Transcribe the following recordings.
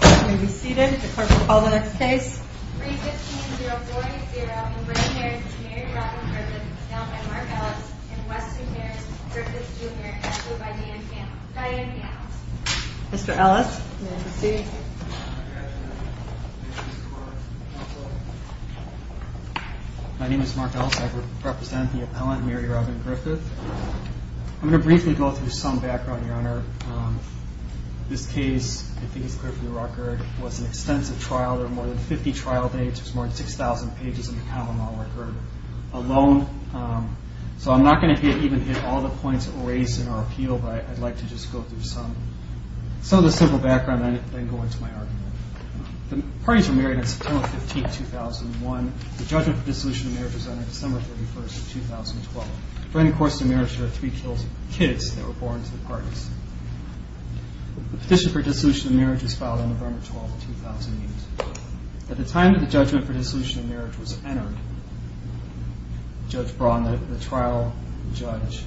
I'm going to be seated. The clerk will call the next case. 3-15-040. In British Marriage, Mary Robin Griffith, now by Mark Ellis. In Western Marriage, Griffith Jr., now by Diane Panels. Mr. Ellis, you may proceed. My name is Mark Ellis. I represent the appellant, Mary Robin Griffith. I'm going to briefly go through some background, Your Honor. This case, I think it's clear from the record, was an extensive trial. There were more than 50 trial dates. There's more than 6,000 pages in the common law record alone. So I'm not going to even hit all the points raised in our appeal, but I'd like to just go through some of the simple background and then go into my argument. The parties were married on September 15, 2001. The judgment for dissolution of marriage was on December 31, 2012. During the course of the marriage, there were three kids that were born to the parties. The petition for dissolution of marriage was filed on November 12, 2008. At the time that the judgment for dissolution of marriage was entered, Judge Braun, the trial judge,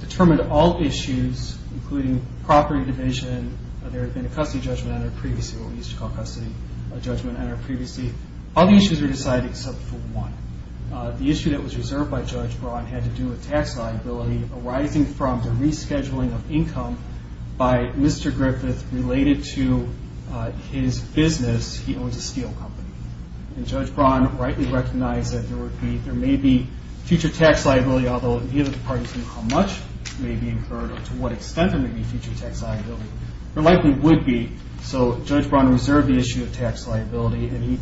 determined all issues, including property division. There had been a custody judgment entered previously, what we used to call custody judgment entered previously. All the issues were decided except for one. The issue that was reserved by Judge Braun had to do with tax liability arising from the rescheduling of income by Mr. Griffith related to his business. He owns a steel company. And Judge Braun rightly recognized that there may be future tax liability, although neither the parties knew how much may be incurred or to what extent there may be future tax liability. There likely would be, so Judge Braun reserved the issue of tax liability and he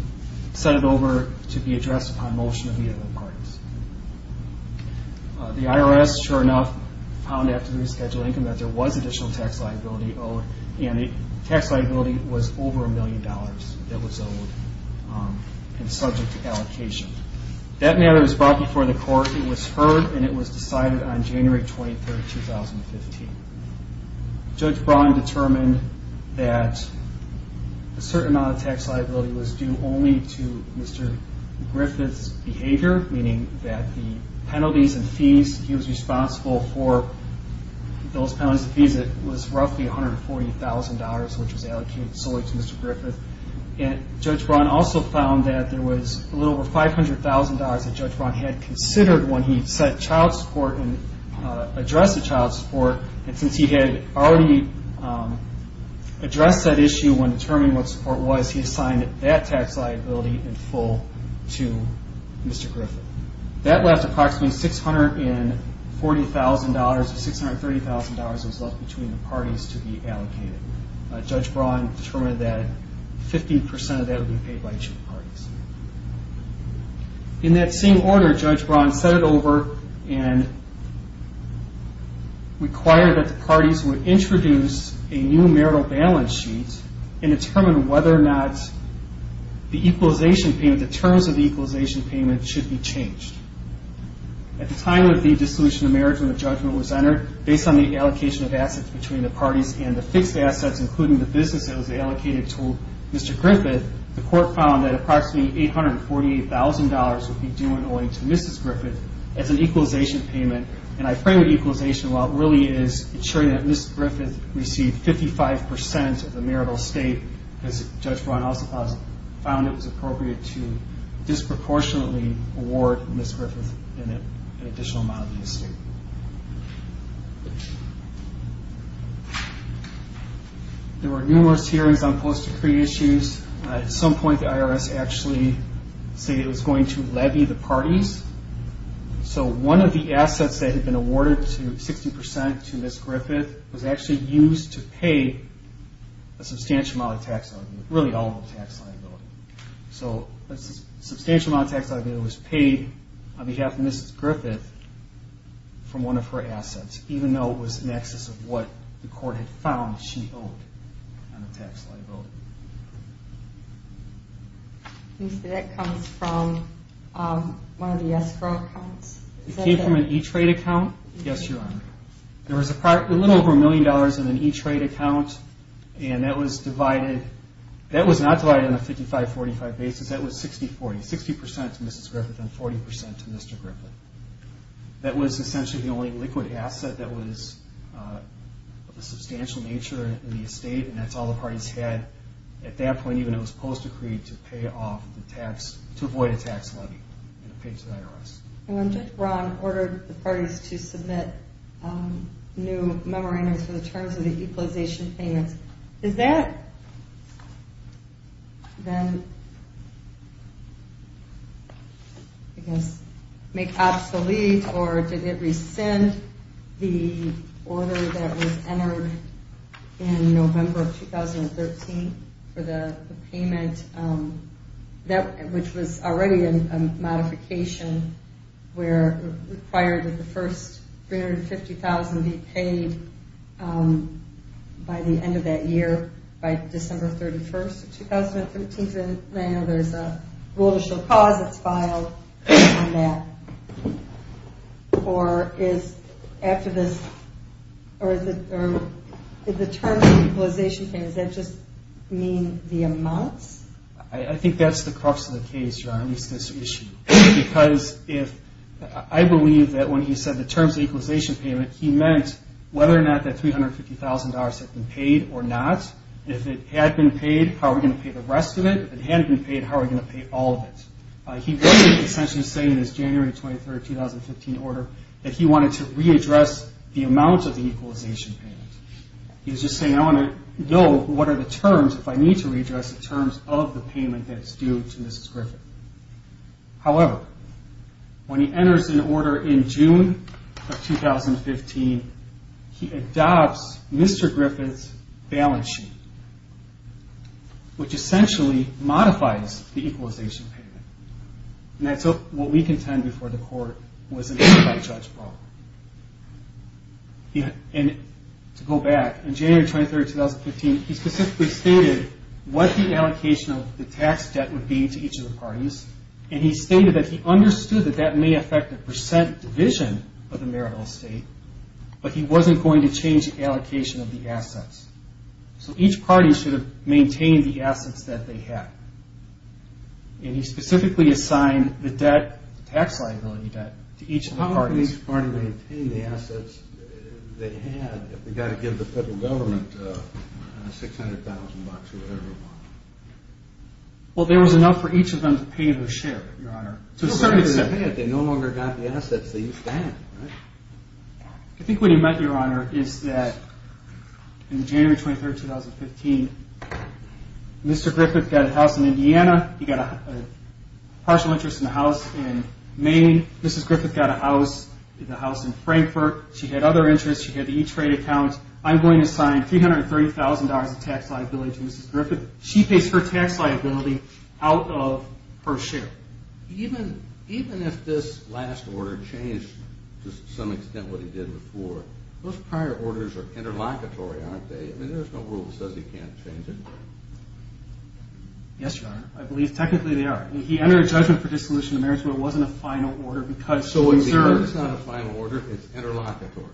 sent it over to be addressed upon motion of the other parties. The IRS, sure enough, found after rescheduling income that there was additional tax liability owed and the tax liability was over a million dollars that was owed and subject to allocation. That matter was brought before the court. It was heard and it was decided on January 23, 2015. Judge Braun determined that a certain amount of tax liability was due only to Mr. Griffith's behavior, meaning that the penalties and fees he was responsible for, those penalties and fees, it was roughly $140,000, which was allocated solely to Mr. Griffith. And Judge Braun also found that there was a little over $500,000 that Judge Braun had considered when he sent child support and addressed the child support. And since he had already addressed that issue when determining what support was, he assigned that tax liability in full to Mr. Griffith. That left approximately $640,000 or $630,000 that was left between the parties to be allocated. Judge Braun determined that 50% of that would be paid by each of the parties. In that same order, Judge Braun set it over and required that the parties would introduce a new marital balance sheet and determine whether or not the equalization payment, the terms of the equalization payment should be changed. At the time of the dissolution of marriage when the judgment was entered, based on the allocation of assets between the parties and the fixed assets, including the business that was allocated to Mr. Griffith, the court found that approximately $848,000 would be due only to Mrs. Griffith as an equalization payment. And I frame equalization, well, it really is ensuring that Mrs. Griffith received 55% of the marital estate, because Judge Braun also found it was appropriate to disproportionately award Mrs. Griffith an additional amount of the estate. There were numerous hearings on post-decree issues. At some point the IRS actually said it was going to levy the parties. So one of the assets that had been awarded 60% to Mrs. Griffith was actually used to pay a substantial amount of tax liability, really all of the tax liability. So a substantial amount of tax liability was paid on behalf of Mrs. Griffith from one of her assets, even though it was in excess of what the court had found she owed on the tax liability. You say that comes from one of the escrow accounts? It came from an E-Trade account. Yes, Your Honor. There was a little over a million dollars in an E-Trade account, and that was not divided on a 55-45 basis. That was 60-40, 60% to Mrs. Griffith and 40% to Mr. Griffith. That was essentially the only liquid asset that was of a substantial nature in the estate, and that's all the parties had at that point, even though it was post-decreed, to pay off the tax, to avoid a tax levy. When Judge Braun ordered the parties to submit new memorandums for the terms of the Equalization Payments, does that then, I guess, make obsolete or did it rescind the order that was entered in November of 2013 for the payment, which was already a modification where it required that the first $350,000 be paid by the end of that year, by December 31st of 2013. I know there's a rule to show cause that's filed on that, or is the terms of the Equalization Payments, does that just mean the amounts? I think that's the crux of the case, Your Honor, is this issue. Because I believe that when he said the terms of the Equalization Payment, he meant whether or not that $350,000 had been paid or not. If it had been paid, how are we going to pay the rest of it? If it hadn't been paid, how are we going to pay all of it? He wasn't essentially saying in his January 23rd, 2015 order that he wanted to readdress the amount of the Equalization Payment. He was just saying, I want to know what are the terms if I need to readdress the terms of the payment that's due to Mrs. Griffith. Which essentially modifies the Equalization Payment. And that's what we contend before the court was an anti-judge problem. To go back, in January 23rd, 2015, he specifically stated what the allocation of the tax debt would be to each of the parties, and he stated that he understood that that may affect the percent division of the marital estate, but he wasn't going to change the allocation of the assets. So each party should have maintained the assets that they had. And he specifically assigned the debt, the tax liability debt, to each of the parties. How could each party maintain the assets they had if they've got to give the federal government $600,000 or whatever they want? Well, there was enough for each of them to pay their share, Your Honor. They no longer got the assets they used to have, right? I think what he meant, Your Honor, is that in January 23rd, 2015, Mr. Griffith got a house in Indiana. He got a partial interest in a house in Maine. Mrs. Griffith got a house in Frankfurt. She had other interests. She had the E-Trade account. I'm going to sign $330,000 of tax liability to Mrs. Griffith. She pays her tax liability out of her share. Even if this last order changed to some extent what he did before, those prior orders are interlocutory, aren't they? I mean, there's no rule that says he can't change it. Yes, Your Honor. I believe technically they are. He entered a judgment for dissolution of marriage where it wasn't a final order because— It's not a final order. It's interlocutory.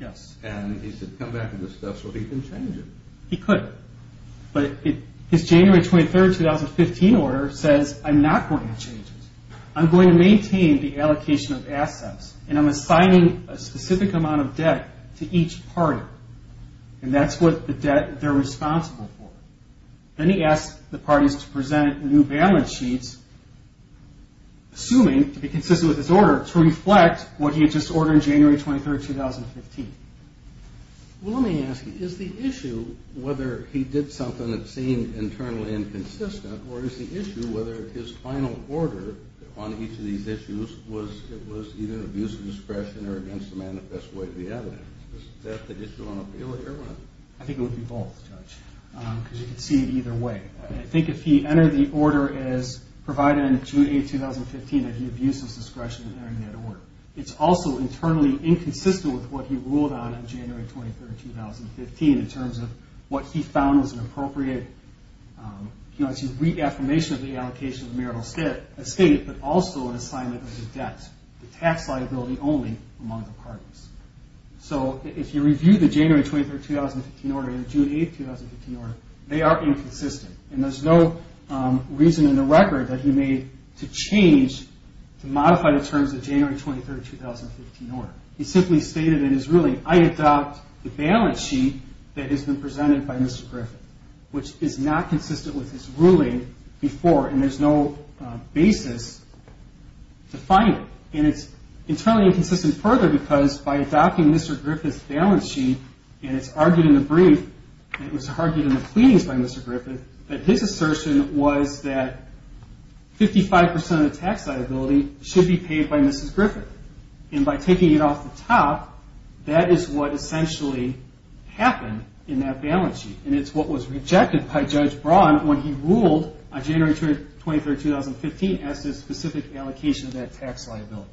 Yes. And he should come back and discuss whether he can change it. He could. But his January 23rd, 2015 order says, I'm not going to change it. I'm going to maintain the allocation of assets, and I'm assigning a specific amount of debt to each party. And that's what the debt they're responsible for. Then he asks the parties to present new balance sheets, assuming to be consistent with his order, to reflect what he had just ordered on January 23rd, 2015. Well, let me ask you. Is the issue whether he did something that seemed internally inconsistent, or is the issue whether his final order on each of these issues was either abuse of discretion or against the manifest way of the evidence? Is that the issue on appeal here? I think it would be both, Judge, because you can see it either way. I think if he entered the order as provided on June 8th, 2015, that he abused his discretion in entering that order. It's also internally inconsistent with what he ruled on on January 23rd, 2015 in terms of what he found was an appropriate reaffirmation of the allocation of the marital estate, but also an assignment of the debt, the tax liability only, among the parties. So if you review the January 23rd, 2015 order and the June 8th, 2015 order, they are inconsistent. And there's no reason in the record that he made to change, to modify the terms of the January 23rd, 2015 order. He simply stated in his ruling, I adopt the balance sheet that has been presented by Mr. Griffith, which is not consistent with his ruling before, and there's no basis to find it. And it's internally inconsistent further because by adopting Mr. Griffith's balance sheet, and it's argued in the brief, and it was argued in the pleadings by Mr. Griffith, that his assertion was that 55% of the tax liability should be paid by Mrs. Griffith. And by taking it off the top, that is what essentially happened in that balance sheet. And it's what was rejected by Judge Braun when he ruled on January 23rd, 2015 as the specific allocation of that tax liability.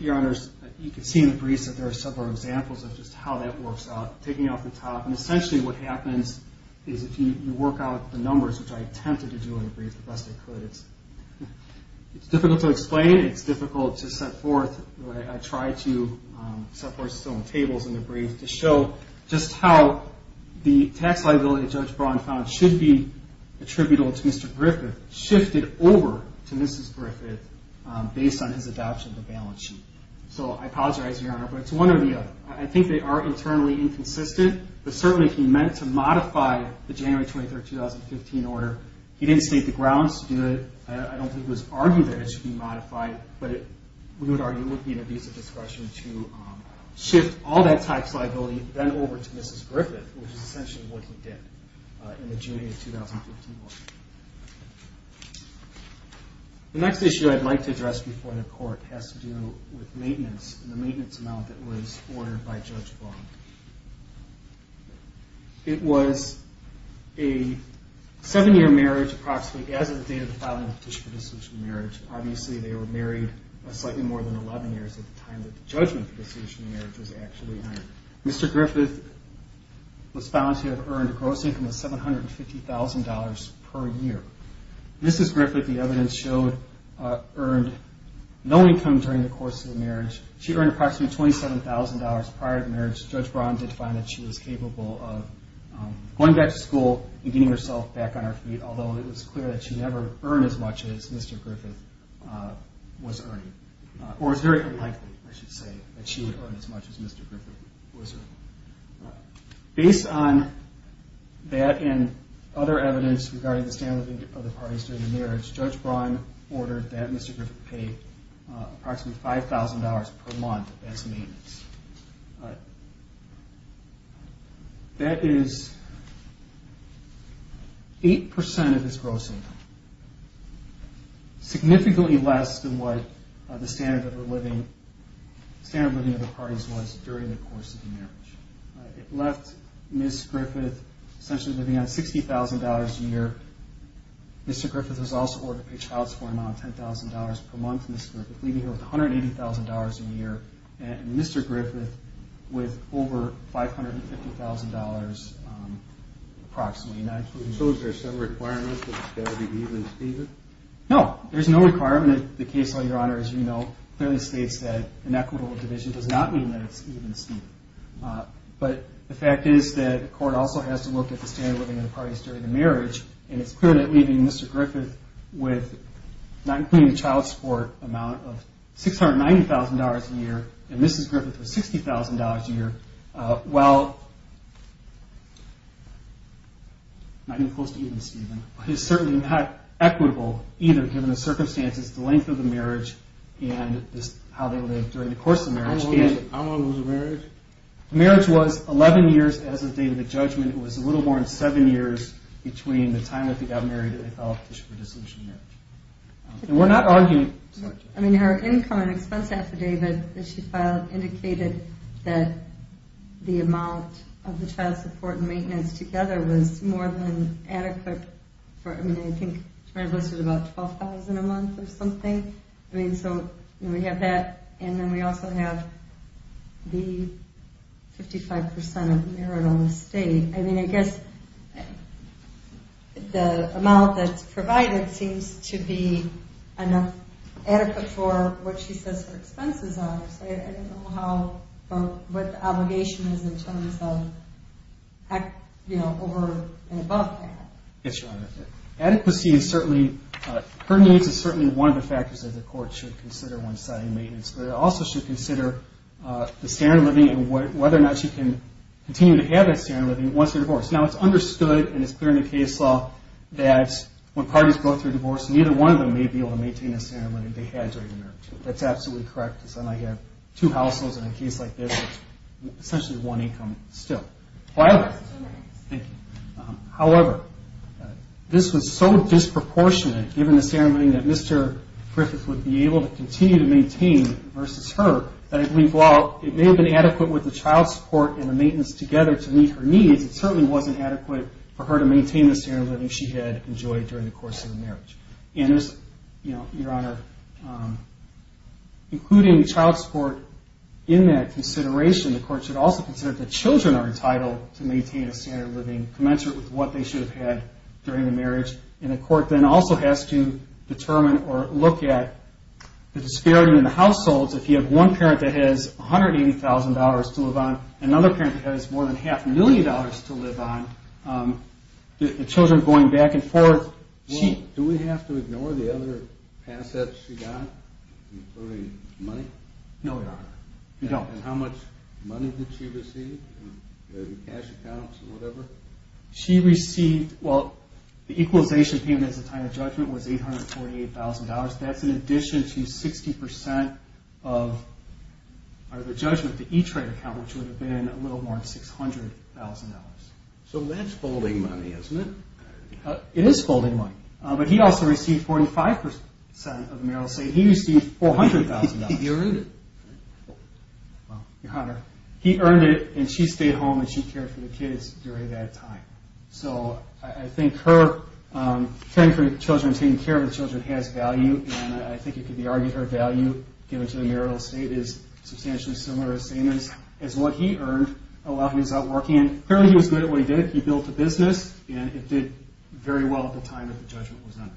Your Honors, you can see in the briefs that there are several examples of just how that works out. Taking it off the top, and essentially what happens is if you work out the numbers, which I attempted to do in the brief the best I could, it's difficult to explain. It's difficult to set forth the way I try to set forth some tables in the brief to show just how the tax liability Judge Braun found should be attributable to Mr. Griffith shifted over to Mrs. Griffith based on his adoption of the balance sheet. So I apologize, Your Honor, but it's one or the other. I think they are internally inconsistent, but certainly he meant to modify the January 23rd, 2015 order. He didn't state the grounds to do it. I don't think it was argued that it should be modified, but we would argue it would be an abusive discretion to shift all that tax liability then over to Mrs. Griffith, which is essentially what he did in the June of 2015 order. The next issue I'd like to address before the Court has to do with maintenance and the maintenance amount that was ordered by Judge Braun. It was a seven-year marriage approximately as of the date of the filing of the Petition for Dissolution of Marriage. Obviously they were married slightly more than 11 years at the time that the judgment for dissolution of marriage was actually earned. Mr. Griffith was found to have earned a gross income of $750,000 per year. Mrs. Griffith, the evidence showed, earned no income during the course of the marriage. She earned approximately $27,000 prior to the marriage. Judge Braun did find that she was capable of going back to school and getting herself back on her feet, although it was clear that she never earned as much as Mr. Griffith was earning, or it's very unlikely, I should say, that she would earn as much as Mr. Griffith was earning. Based on that and other evidence regarding the standard of living of the parties during the marriage, Judge Braun ordered that Mr. Griffith pay approximately $5,000 per month as maintenance. That is 8% of his gross income, significantly less than what the standard of living of the parties was during the course of the marriage. It left Mrs. Griffith essentially living on $60,000 a year. Mr. Griffith was also ordered to pay child support an amount of $10,000 per month. Mrs. Griffith living here with $180,000 a year, and Mr. Griffith with over $550,000 approximately. No, there's no requirement. The case law, Your Honor, as you know, clearly states that an equitable division does not mean that it's even-steven. But the fact is that the court also has to look at the standard of living of the parties during the marriage, and it's clear that leaving Mr. Griffith with not including the child support amount of $690,000 a year and Mrs. Griffith with $60,000 a year, while not even close to even-steven, is certainly not equitable either given the circumstances, the length of the marriage, and how they lived during the course of the marriage. How long was the marriage? The marriage was 11 years as of the date of the judgment. It was a little more than seven years between the time that they got married and the time that they filed for dissolution of marriage. And we're not arguing... I mean, her income and expense affidavit that she filed indicated that the amount of the child support and maintenance together was more than adequate for... I mean, I think she might have listed about $12,000 a month or something. I mean, so we have that. And then we also have the 55% of marital estate. I mean, I guess the amount that's provided seems to be enough adequate for what she says her expenses are. I don't know what the obligation is in terms of over and above that. Yes, Your Honor. Adequacy is certainly... Her needs is certainly one of the factors that the court should consider when deciding maintenance, but it also should consider the standard of living and whether or not she can continue to have that standard of living once they're divorced. Now, it's understood, and it's clear in the case law, that when parties go through divorce, neither one of them may be able to maintain the standard of living they had during the marriage. That's absolutely correct, because then I have two households, and in a case like this, it's essentially one income still. However... Two minutes. Thank you. However, this was so disproportionate, given the standard of living that Mr. Griffith would be able to continue to maintain versus her, that I believe while it may have been adequate with the child support and the maintenance together to meet her needs, it certainly wasn't adequate for her to maintain the standard of living she had enjoyed during the course of the marriage. Your Honor, including child support in that consideration, the court should also consider that children are entitled to maintain a standard of living commensurate with what they should have had during the marriage, and the court then also has to determine or look at the disparity in the households. If you have one parent that has $180,000 to live on and another parent that has more than half a million dollars to live on, the children going back and forth... Do we have to ignore the other assets she got, including money? No, Your Honor. We don't. And how much money did she receive in cash accounts or whatever? She received... Well, the equalization payment as a time of judgment was $848,000. That's in addition to 60% of the judgment, the E-Trade account, which would have been a little more than $600,000. So that's folding money, isn't it? It is folding money. But he also received 45% of the marital estate. He received $400,000. He earned it. Your Honor, he earned it, and she stayed home and she cared for the kids during that time. So I think her caring for the children and taking care of the children has value, and I think it could be argued her value given to the marital estate is substantially similar or the same as what he earned while he was out working. Clearly he was good at what he did. He built a business, and it did very well at the time that the judgment was in. Any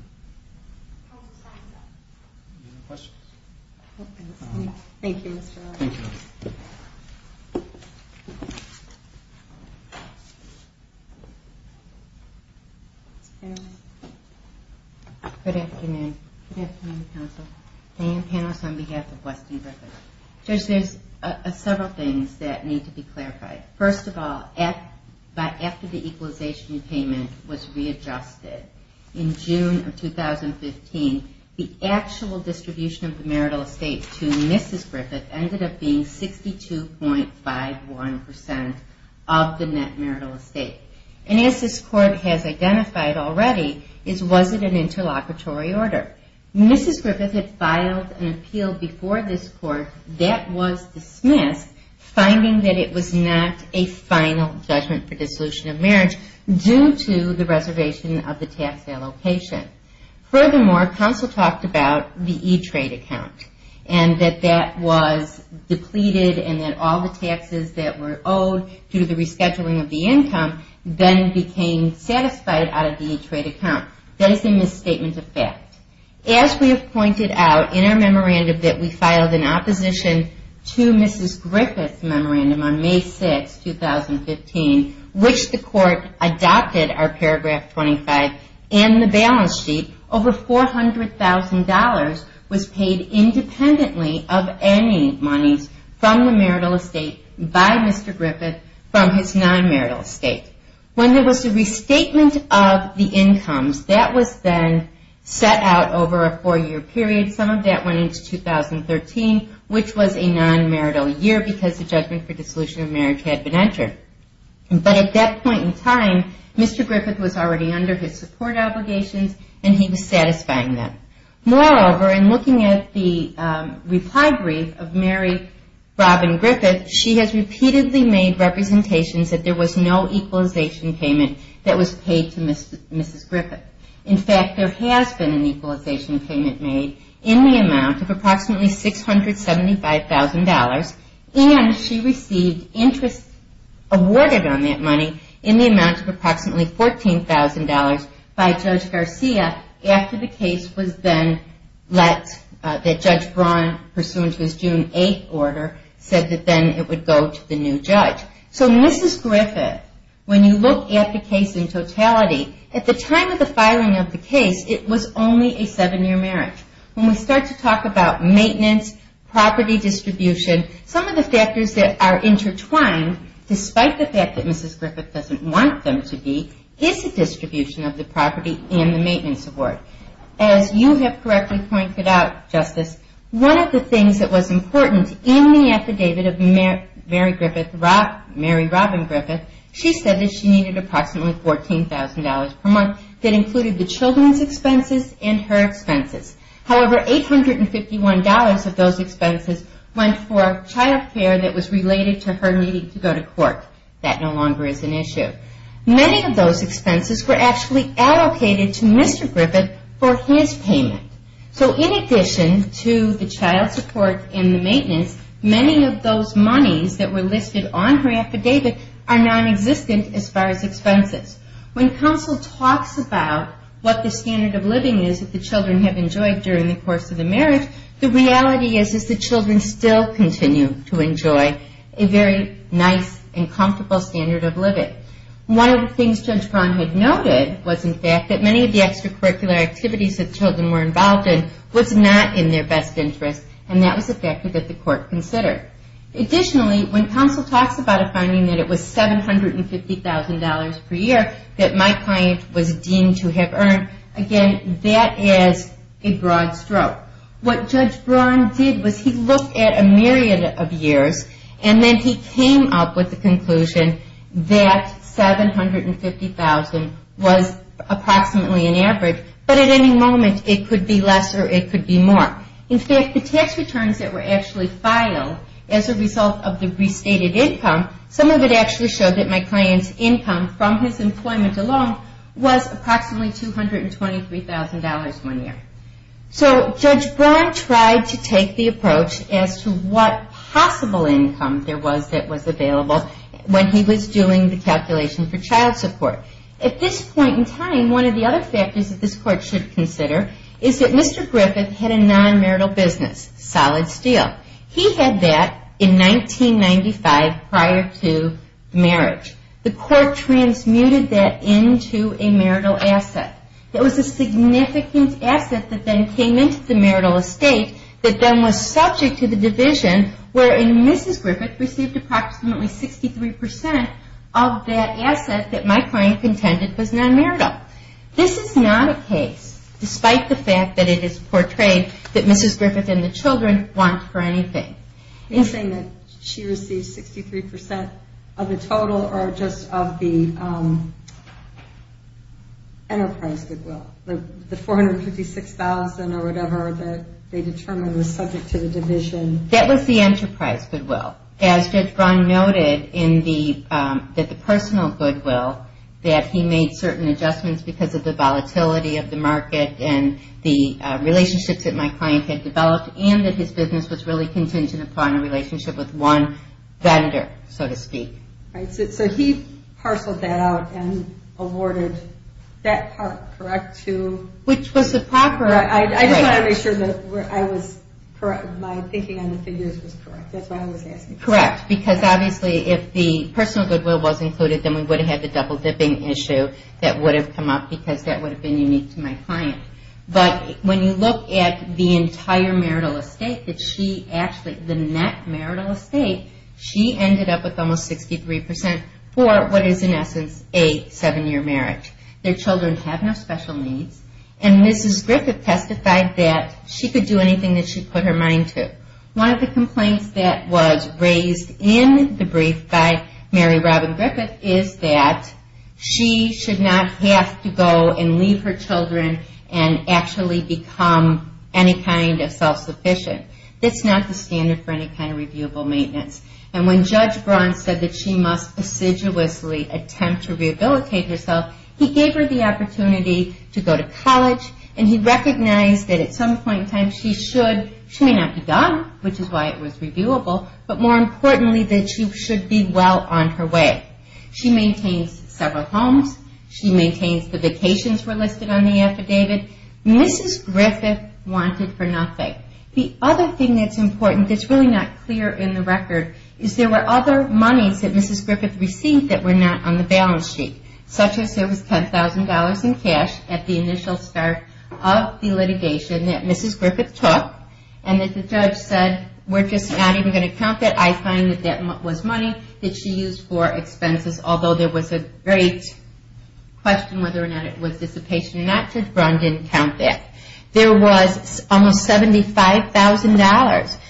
other questions? Thank you, Mr. Lowe. Thank you. Good afternoon. Good afternoon, counsel. Diane Panos on behalf of Weston Rivers. Judge, there's several things that need to be clarified. First of all, after the equalization payment was readjusted in June of 2015, the actual distribution of the marital estate to Mrs. Griffith ended up being 62.51% of the net marital estate. And as this Court has identified already, was it an interlocutory order? Mrs. Griffith had filed an appeal before this Court that was dismissed, finding that it was not a final judgment for dissolution of marriage due to the reservation of the tax allocation. Furthermore, counsel talked about the E-Trade account and that that was depleted and that all the taxes that were owed due to the rescheduling of the income then became satisfied out of the E-Trade account. That is a misstatement of fact. As we have pointed out in our memorandum that we filed in opposition to Mrs. Griffith's memorandum on May 6, 2015, which the Court adopted our paragraph 25 and the balance sheet, over $400,000 was paid independently of any monies from the marital estate by Mr. Griffith from his non-marital estate. When there was a restatement of the incomes, that was then set out over a four-year period. Some of that went into 2013, which was a non-marital year because the judgment for dissolution of marriage had been entered. But at that point in time, Mr. Griffith was already under his support obligations and he was satisfying them. Moreover, in looking at the reply brief of Mary Robin Griffith, she has repeatedly made representations that there was no equalization payment that was paid to Mrs. Griffith. In fact, there has been an equalization payment made in the amount of approximately $675,000 and she received interest awarded on that money in the amount of approximately $14,000 by Judge Garcia after the case was then let, that Judge Braun, pursuant to his June 8 order, said that then it would go to the new judge. So Mrs. Griffith, when you look at the case in totality, at the time of the filing of the case, it was only a seven-year marriage. When we start to talk about maintenance, property distribution, some of the factors that are intertwined, despite the fact that Mrs. Griffith doesn't want them to be, is the distribution of the property and the maintenance award. As you have correctly pointed out, Justice, one of the things that was important in the affidavit of Mary Robin Griffith, she said that she needed approximately $14,000 per month that included the children's expenses and her expenses. However, $851 of those expenses went for child care that was related to her needing to go to court. That no longer is an issue. Many of those expenses were actually allocated to Mr. Griffith for his payment. So in addition to the child support and the maintenance, many of those monies that were listed on her affidavit are nonexistent as far as expenses. When counsel talks about what the standard of living is that the children have enjoyed during the course of the marriage, the reality is that the children still continue to enjoy a very nice and comfortable standard of living. One of the things Judge Braun had noted was in fact that many of the extracurricular activities that children were involved in was not in their best interest, and that was a factor that the court considered. Additionally, when counsel talks about a finding that it was $750,000 per year that my client was deemed to have earned, again, that is a broad stroke. What Judge Braun did was he looked at a myriad of years and then he came up with the conclusion that $750,000 was approximately an average, but at any moment it could be less or it could be more. In fact, the tax returns that were actually filed as a result of the restated income, some of it actually showed that my client's income from his employment alone was approximately $223,000 one year. So Judge Braun tried to take the approach as to what possible income there was that was available when he was doing the calculation for child support. At this point in time, one of the other factors that this court should consider is that Mr. Griffith had a non-marital business, Solid Steel. He had that in 1995 prior to marriage. The court transmuted that into a marital asset. It was a significant asset that then came into the marital estate that then was subject to the division wherein Mrs. Griffith received approximately 63% of that asset that my client contended was non-marital. This is not a case, despite the fact that it is portrayed that Mrs. Griffith and the children want for anything. Are you saying that she received 63% of the total or just of the enterprise goodwill, the $456,000 or whatever that they determined was subject to the division? That was the enterprise goodwill. As Judge Braun noted, that the personal goodwill, that he made certain adjustments because of the volatility of the market and the relationships that my client had developed and that his business was really contingent upon a relationship with one vendor, so to speak. He parceled that out and awarded that part, correct? Which was the proper... I just want to make sure that my thinking on the figures was correct. That's what I was asking. Correct, because obviously if the personal goodwill was included, then we would have had the double dipping issue that would have come up because that would have been unique to my client. When you look at the entire marital estate, the net marital estate, she ended up with almost 63% for what is in essence a seven-year marriage. Their children have no special needs. Mrs. Griffith testified that she could do anything that she put her mind to. One of the complaints that was raised in the brief by Mary Robin Griffith is that she should not have to go and leave her children and actually become any kind of self-sufficient. That's not the standard for any kind of reviewable maintenance. When Judge Braun said that she must assiduously attempt to rehabilitate herself, he gave her the opportunity to go to college, and he recognized that at some point in time she should... She may not be done, which is why it was reviewable, but more importantly that she should be well on her way. She maintains several homes. She maintains the vacations were listed on the affidavit. Mrs. Griffith wanted for nothing. The other thing that's important that's really not clear in the record is there were other monies that Mrs. Griffith received that were not on the balance sheet, such as there was $10,000 in cash at the initial start of the litigation that Mrs. Griffith took and that the judge said, we're just not even going to count that. I find that that was money that she used for expenses, although there was a great question whether or not it was dissipation. Not that Judge Braun didn't count that. There was almost $75,000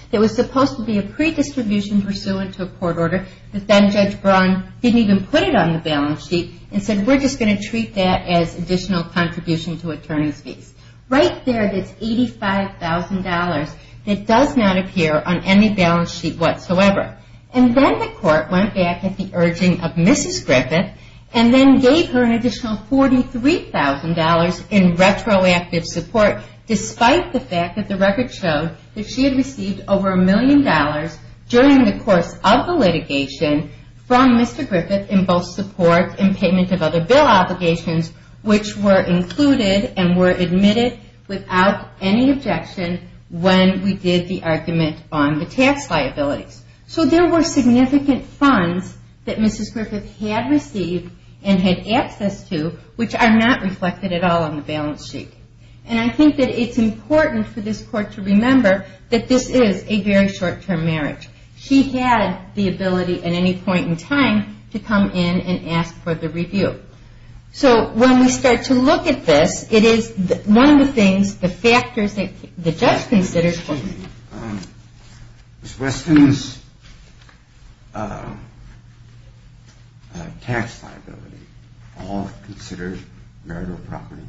that was supposed to be a pre-distribution pursuant to a court order that then Judge Braun didn't even put it on the balance sheet and said we're just going to treat that as additional contribution to attorney's fees. Right there it is $85,000 that does not appear on any balance sheet whatsoever. And then the court went back at the urging of Mrs. Griffith and then gave her an additional $43,000 in retroactive support, despite the fact that the record showed that she had received over a million dollars during the course of the litigation from Mr. Griffith in both support and payment of other bill obligations, which were included and were admitted without any objection when we did the argument on the tax liabilities. So there were significant funds that Mrs. Griffith had received and had access to, which are not reflected at all on the balance sheet. And I think that it's important for this court to remember that this is a very short-term marriage. She had the ability at any point in time to come in and ask for the review. So when we start to look at this, it is one of the factors that the judge considers. Excuse me. Is Weston's tax liability all considered marital property?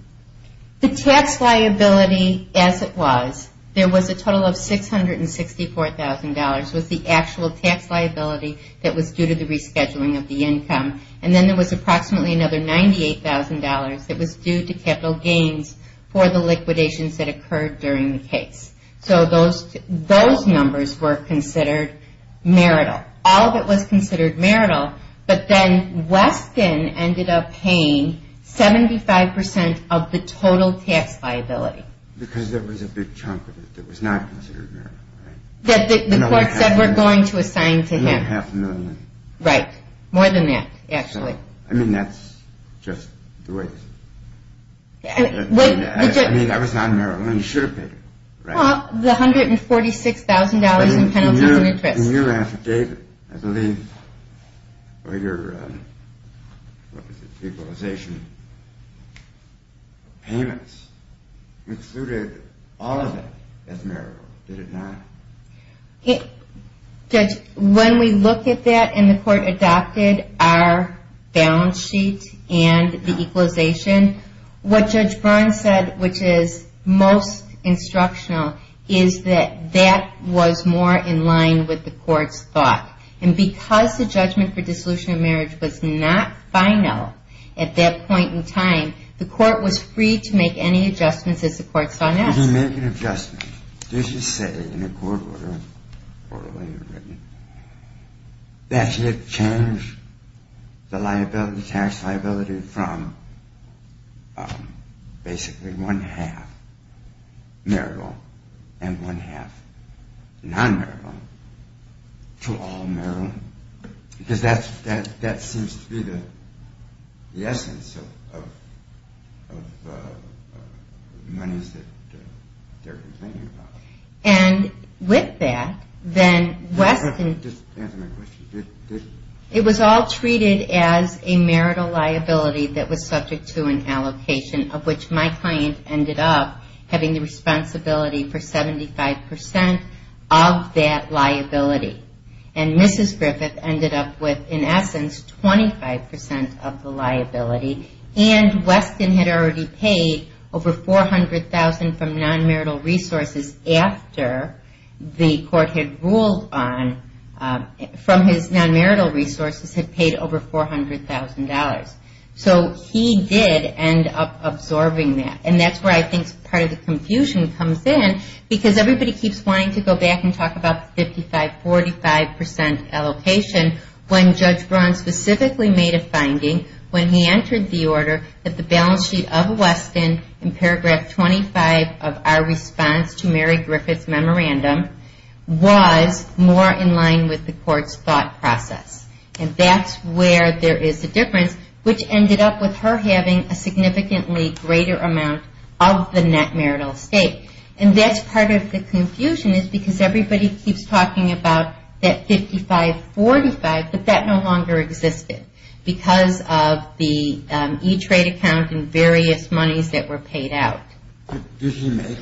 The tax liability as it was, there was a total of $664,000 was the actual tax liability that was due to the rescheduling of the income. And then there was approximately another $98,000 that was due to capital gains for the liquidations that occurred during the case. So those numbers were considered marital. All of it was considered marital, but then Weston ended up paying 75% of the total tax liability. Because there was a big chunk of it that was not considered marital, right? That the court said, we're going to assign to him. More than half a million. Right. More than that, actually. I mean, that's just the way it is. I mean, that was not marital, and he should have paid it, right? Well, the $146,000 in penalties and interest. In your affidavit, I believe, or your equalization payments, you included all of it as marital, did it not? Judge, when we looked at that and the court adopted our balance sheet and the equalization, what Judge Byrne said, which is most instructional, is that that was more in line with the court's thought. And because the judgment for dissolution of marriage was not final at that point in time, the court was free to make any adjustments as the court saw fit. Did he make an adjustment? Did he say in a court order that he had changed the tax liability from basically one-half marital and one-half non-marital to all marital? Because that seems to be the essence of monies that they're complaining about. And with that, then Weston... Just answer my question. It was all treated as a marital liability that was subject to an allocation, of which my client ended up having the responsibility for 75% of that liability. And Mrs. Griffith ended up with, in essence, 25% of the liability. And Weston had already paid over $400,000 from non-marital resources after the court had ruled on... from his non-marital resources had paid over $400,000. So he did end up absorbing that. And that's where I think part of the confusion comes in, because everybody keeps wanting to go back and talk about the 55-45% allocation when Judge Braun specifically made a finding when he entered the order that the balance sheet of Weston in paragraph 25 of our response to Mary Griffith's memorandum was more in line with the court's thought process. And that's where there is a difference, which ended up with her having a significantly greater amount of the net marital estate. And that's part of the confusion, because everybody keeps talking about that 55-45, but that no longer existed because of the E-Trade account and various monies that were paid out. Did he make,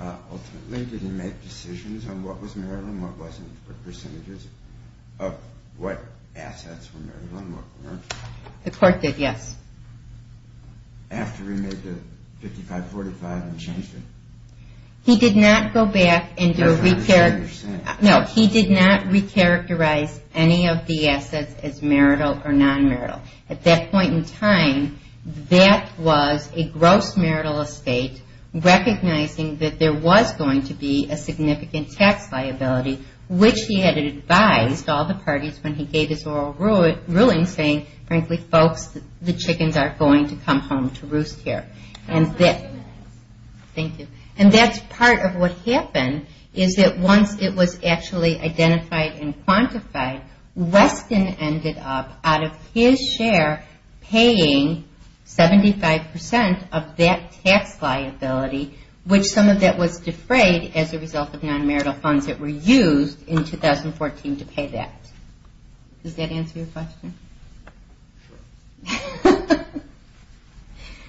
ultimately, did he make decisions on what was marital and what wasn't for percentages of what assets were marital and what weren't? The court did, yes. After he made the 55-45 and changed it? He did not go back and do a re-characterize. No, he did not re-characterize any of the assets as marital or non-marital. At that point in time, that was a gross marital estate, recognizing that there was going to be a significant tax liability, which he had advised all the parties when he gave his oral ruling, saying, frankly, folks, the chickens aren't going to come home to roost here. And that's part of what happened, is that once it was actually identified and quantified, Weston ended up, out of his share, paying 75% of that tax liability, which some of that was defrayed as a result of non-marital funds that were used in 2014 to pay that. Does that answer your question? Sure.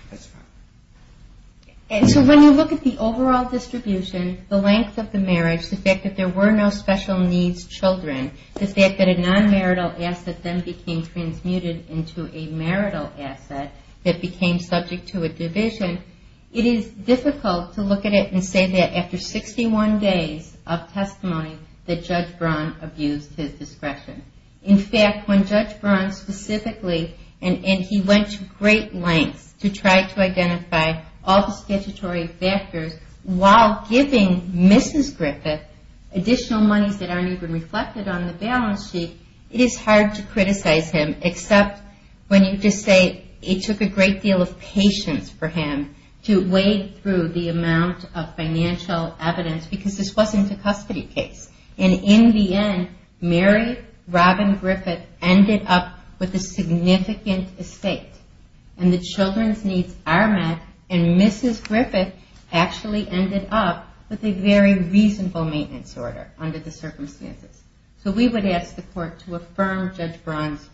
That's fine. So when you look at the overall distribution, the length of the marriage, the fact that there were no special needs children, the fact that a non-marital asset then became transmuted into a marital asset that became subject to a division, it is difficult to look at it and say that after 61 days of testimony that Judge Braun abused his discretion. In fact, when Judge Braun specifically, and he went to great lengths to try to identify all the statutory factors while giving Mrs. Griffith additional monies that aren't even reflected on the balance sheet, it is hard to criticize him, except when you just say it took a great deal of patience for him to wade through the amount of financial evidence, because this wasn't a custody case. And in the end, Mary Robin Griffith ended up with a significant estate, and the children's needs are met, and Mrs. Griffith actually ended up with a very reasonable maintenance order under the circumstances. So we would ask the court to affirm Judge Braun's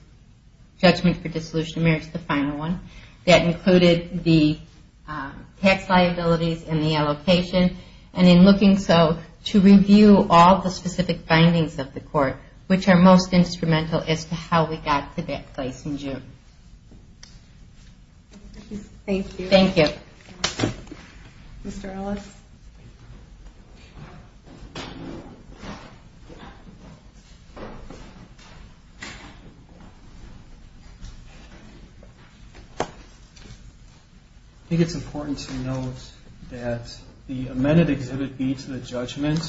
judgment for dissolution of marriage, the final one, that included the tax liabilities and the allocation, and in looking so, to review all the specific findings of the court, which are most instrumental as to how we got to that place in June. Thank you. Thank you. Mr. Ellis? Thank you. I think it's important to note that the amended Exhibit B to the judgment,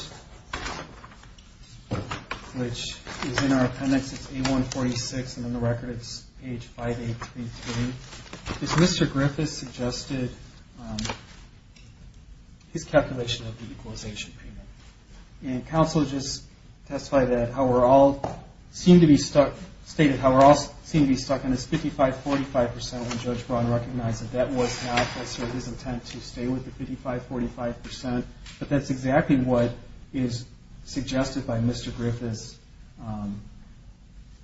which is in our appendix, it's A146, and on the record it's page 5833, is Mr. Griffith suggested his calculation of the equalization payment. And counsel just testified that how we're all seem to be stuck, stated how we're all seem to be stuck on this 55-45% when Judge Braun recognized that that was not his intent to stay with the 55-45%, but that's exactly what is suggested by Mr. Griffith's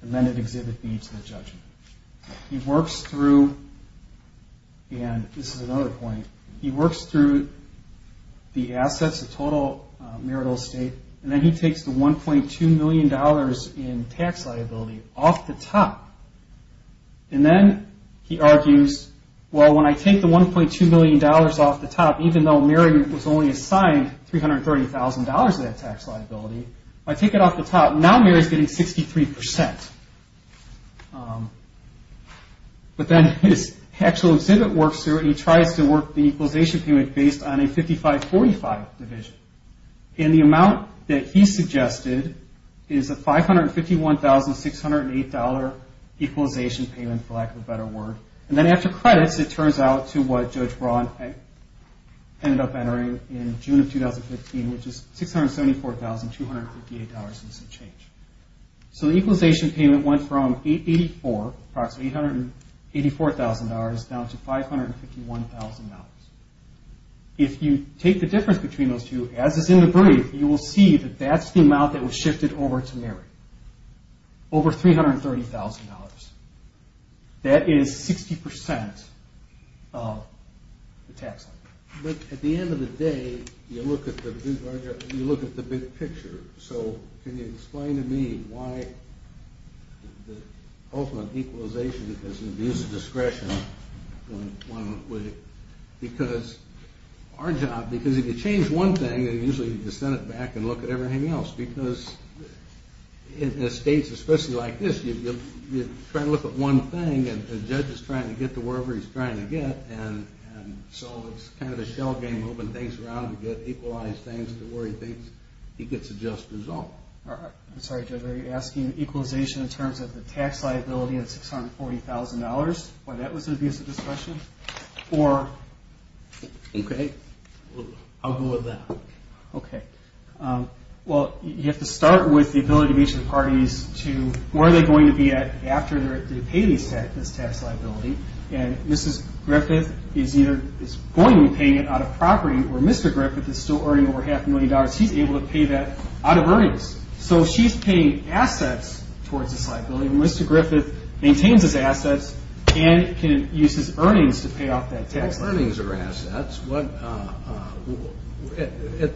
amended Exhibit B to the judgment. He works through, and this is another point, he works through the assets of total marital estate, and then he takes the $1.2 million in tax liability off the top. And then he argues, well, when I take the $1.2 million off the top, even though Mary was only assigned $330,000 of that tax liability, if I take it off the top, now Mary's getting 63%. But then his actual exhibit works through, and he tries to work the equalization payment based on a 55-45 division. And the amount that he suggested is a $551,608 equalization payment, for lack of a better word. And then after credits, it turns out to what Judge Braun ended up entering in June of 2015, which is $674,258 in some change. So the equalization payment went from $884,000, approximately $884,000, down to $551,000. If you take the difference between those two, as is in the brief, you will see that that's the amount that was shifted over to Mary, over $330,000. That is 60% of the tax liability. But at the end of the day, you look at the big picture. So can you explain to me why the ultimate equalization, because there's a discretion. Because our job, because if you change one thing, then usually you can send it back and look at everything else. Because in states especially like this, you try to look at one thing, and the judge is trying to get to wherever he's trying to get, and so it's kind of a shell game moving things around to get equalized things to where he thinks he gets a just result. I'm sorry, Judge, are you asking equalization in terms of the tax liability and $640,000? Why, that was an abusive discretion? Okay, I'll go with that. Okay. Well, you have to start with the ability of each of the parties to where they're going to be at after they pay this tax liability. And Mrs. Griffith is either going to be paying it out of property or Mr. Griffith is still earning over half a million dollars. He's able to pay that out of earnings. So she's paying assets towards this liability, and Mr. Griffith maintains his assets and can use his earnings to pay off that tax liability. Well, earnings are assets. At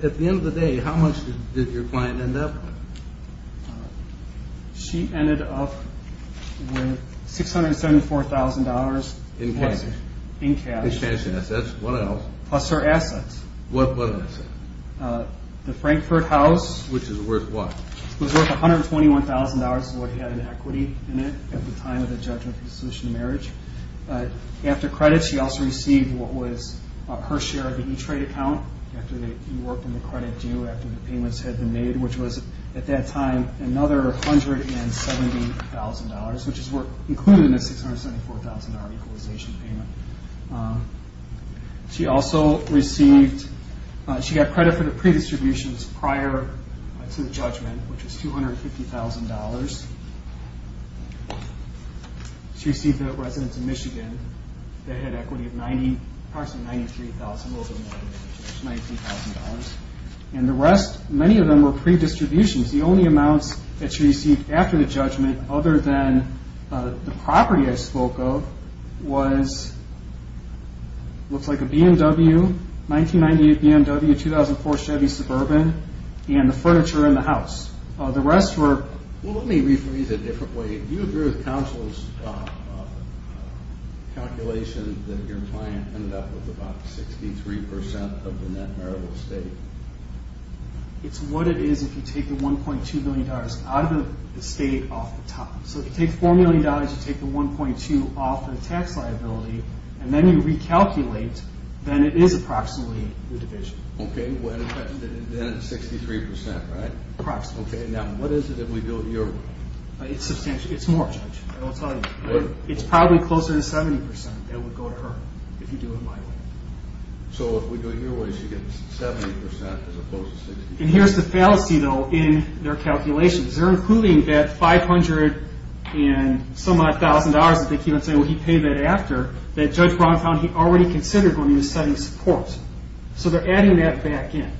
the end of the day, how much did your client end up with? She ended up with $674,000. In cash. In cash. Expansion assets. What else? Plus her assets. What other assets? The Frankfort house. Which is worth what? It was worth $121,000 of what he had in equity in it at the time of the judgment for the solution to marriage. After credit, she also received what was her share of the E-Trade account after you worked on the credit due after the payments had been made, which was at that time another $170,000, which is included in the $674,000 equalization payment. She also received credit for the pre-distributions prior to the judgment, which was $250,000. She received the residents of Michigan that had equity of approximately $93,000. And the rest, many of them were pre-distributions. The only amounts that she received after the judgment, other than the property I spoke of, was, looks like a BMW, 1998 BMW, 2004 Chevy Suburban, and the furniture in the house. The rest were... Well, let me rephrase it a different way. Do you agree with counsel's calculation that your client ended up with about 63% of the net marital estate? It's what it is if you take the $1.2 million out of the estate off the top. So if you take $4 million, you take the $1.2 off the tax liability, and then you recalculate, then it is approximately the division. Okay, then it's 63%, right? Approximately. Okay, now what is it if we build your... It's more, Judge, I will tell you. It's probably closer to 70% that would go to her if you do it my way. So if we do it your way, she gets 70% as opposed to 63%. And here's the fallacy, though, in their calculations. They're including that $500 and some-odd thousand dollars that they keep on saying, well, he paid that after, that Judge Brown found he already considered when he was setting support. So they're adding that back in.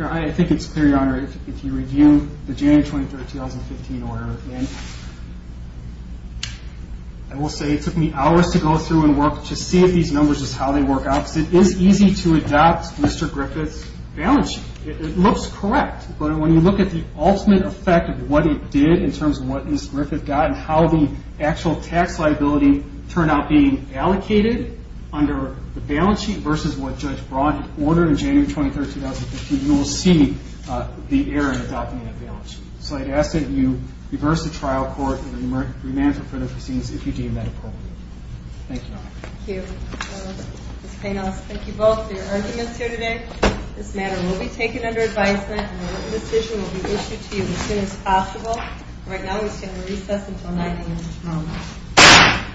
I think it's clear, Your Honor, if you review the January 23, 2015 order, and I will say it took me hours to go through and work to see if these numbers is how they work out because it is easy to adopt Mr. Griffith's balance sheet. It looks correct, but when you look at the ultimate effect of what it did in terms of what Mr. Griffith got and how the actual tax liability turned out being allocated under the balance sheet versus what Judge Brown had ordered in January 23, 2015, you will see the error in adopting that balance sheet. So I'd ask that you reverse the trial court and remand for further proceedings if you deem that appropriate. Thank you, Your Honor. Thank you. Ms. Payne, I'll speak to both of your arguments here today. This matter will be taken under advisement, and a written decision will be issued to you as soon as possible. Right now, we stand at recess until 9 p.m.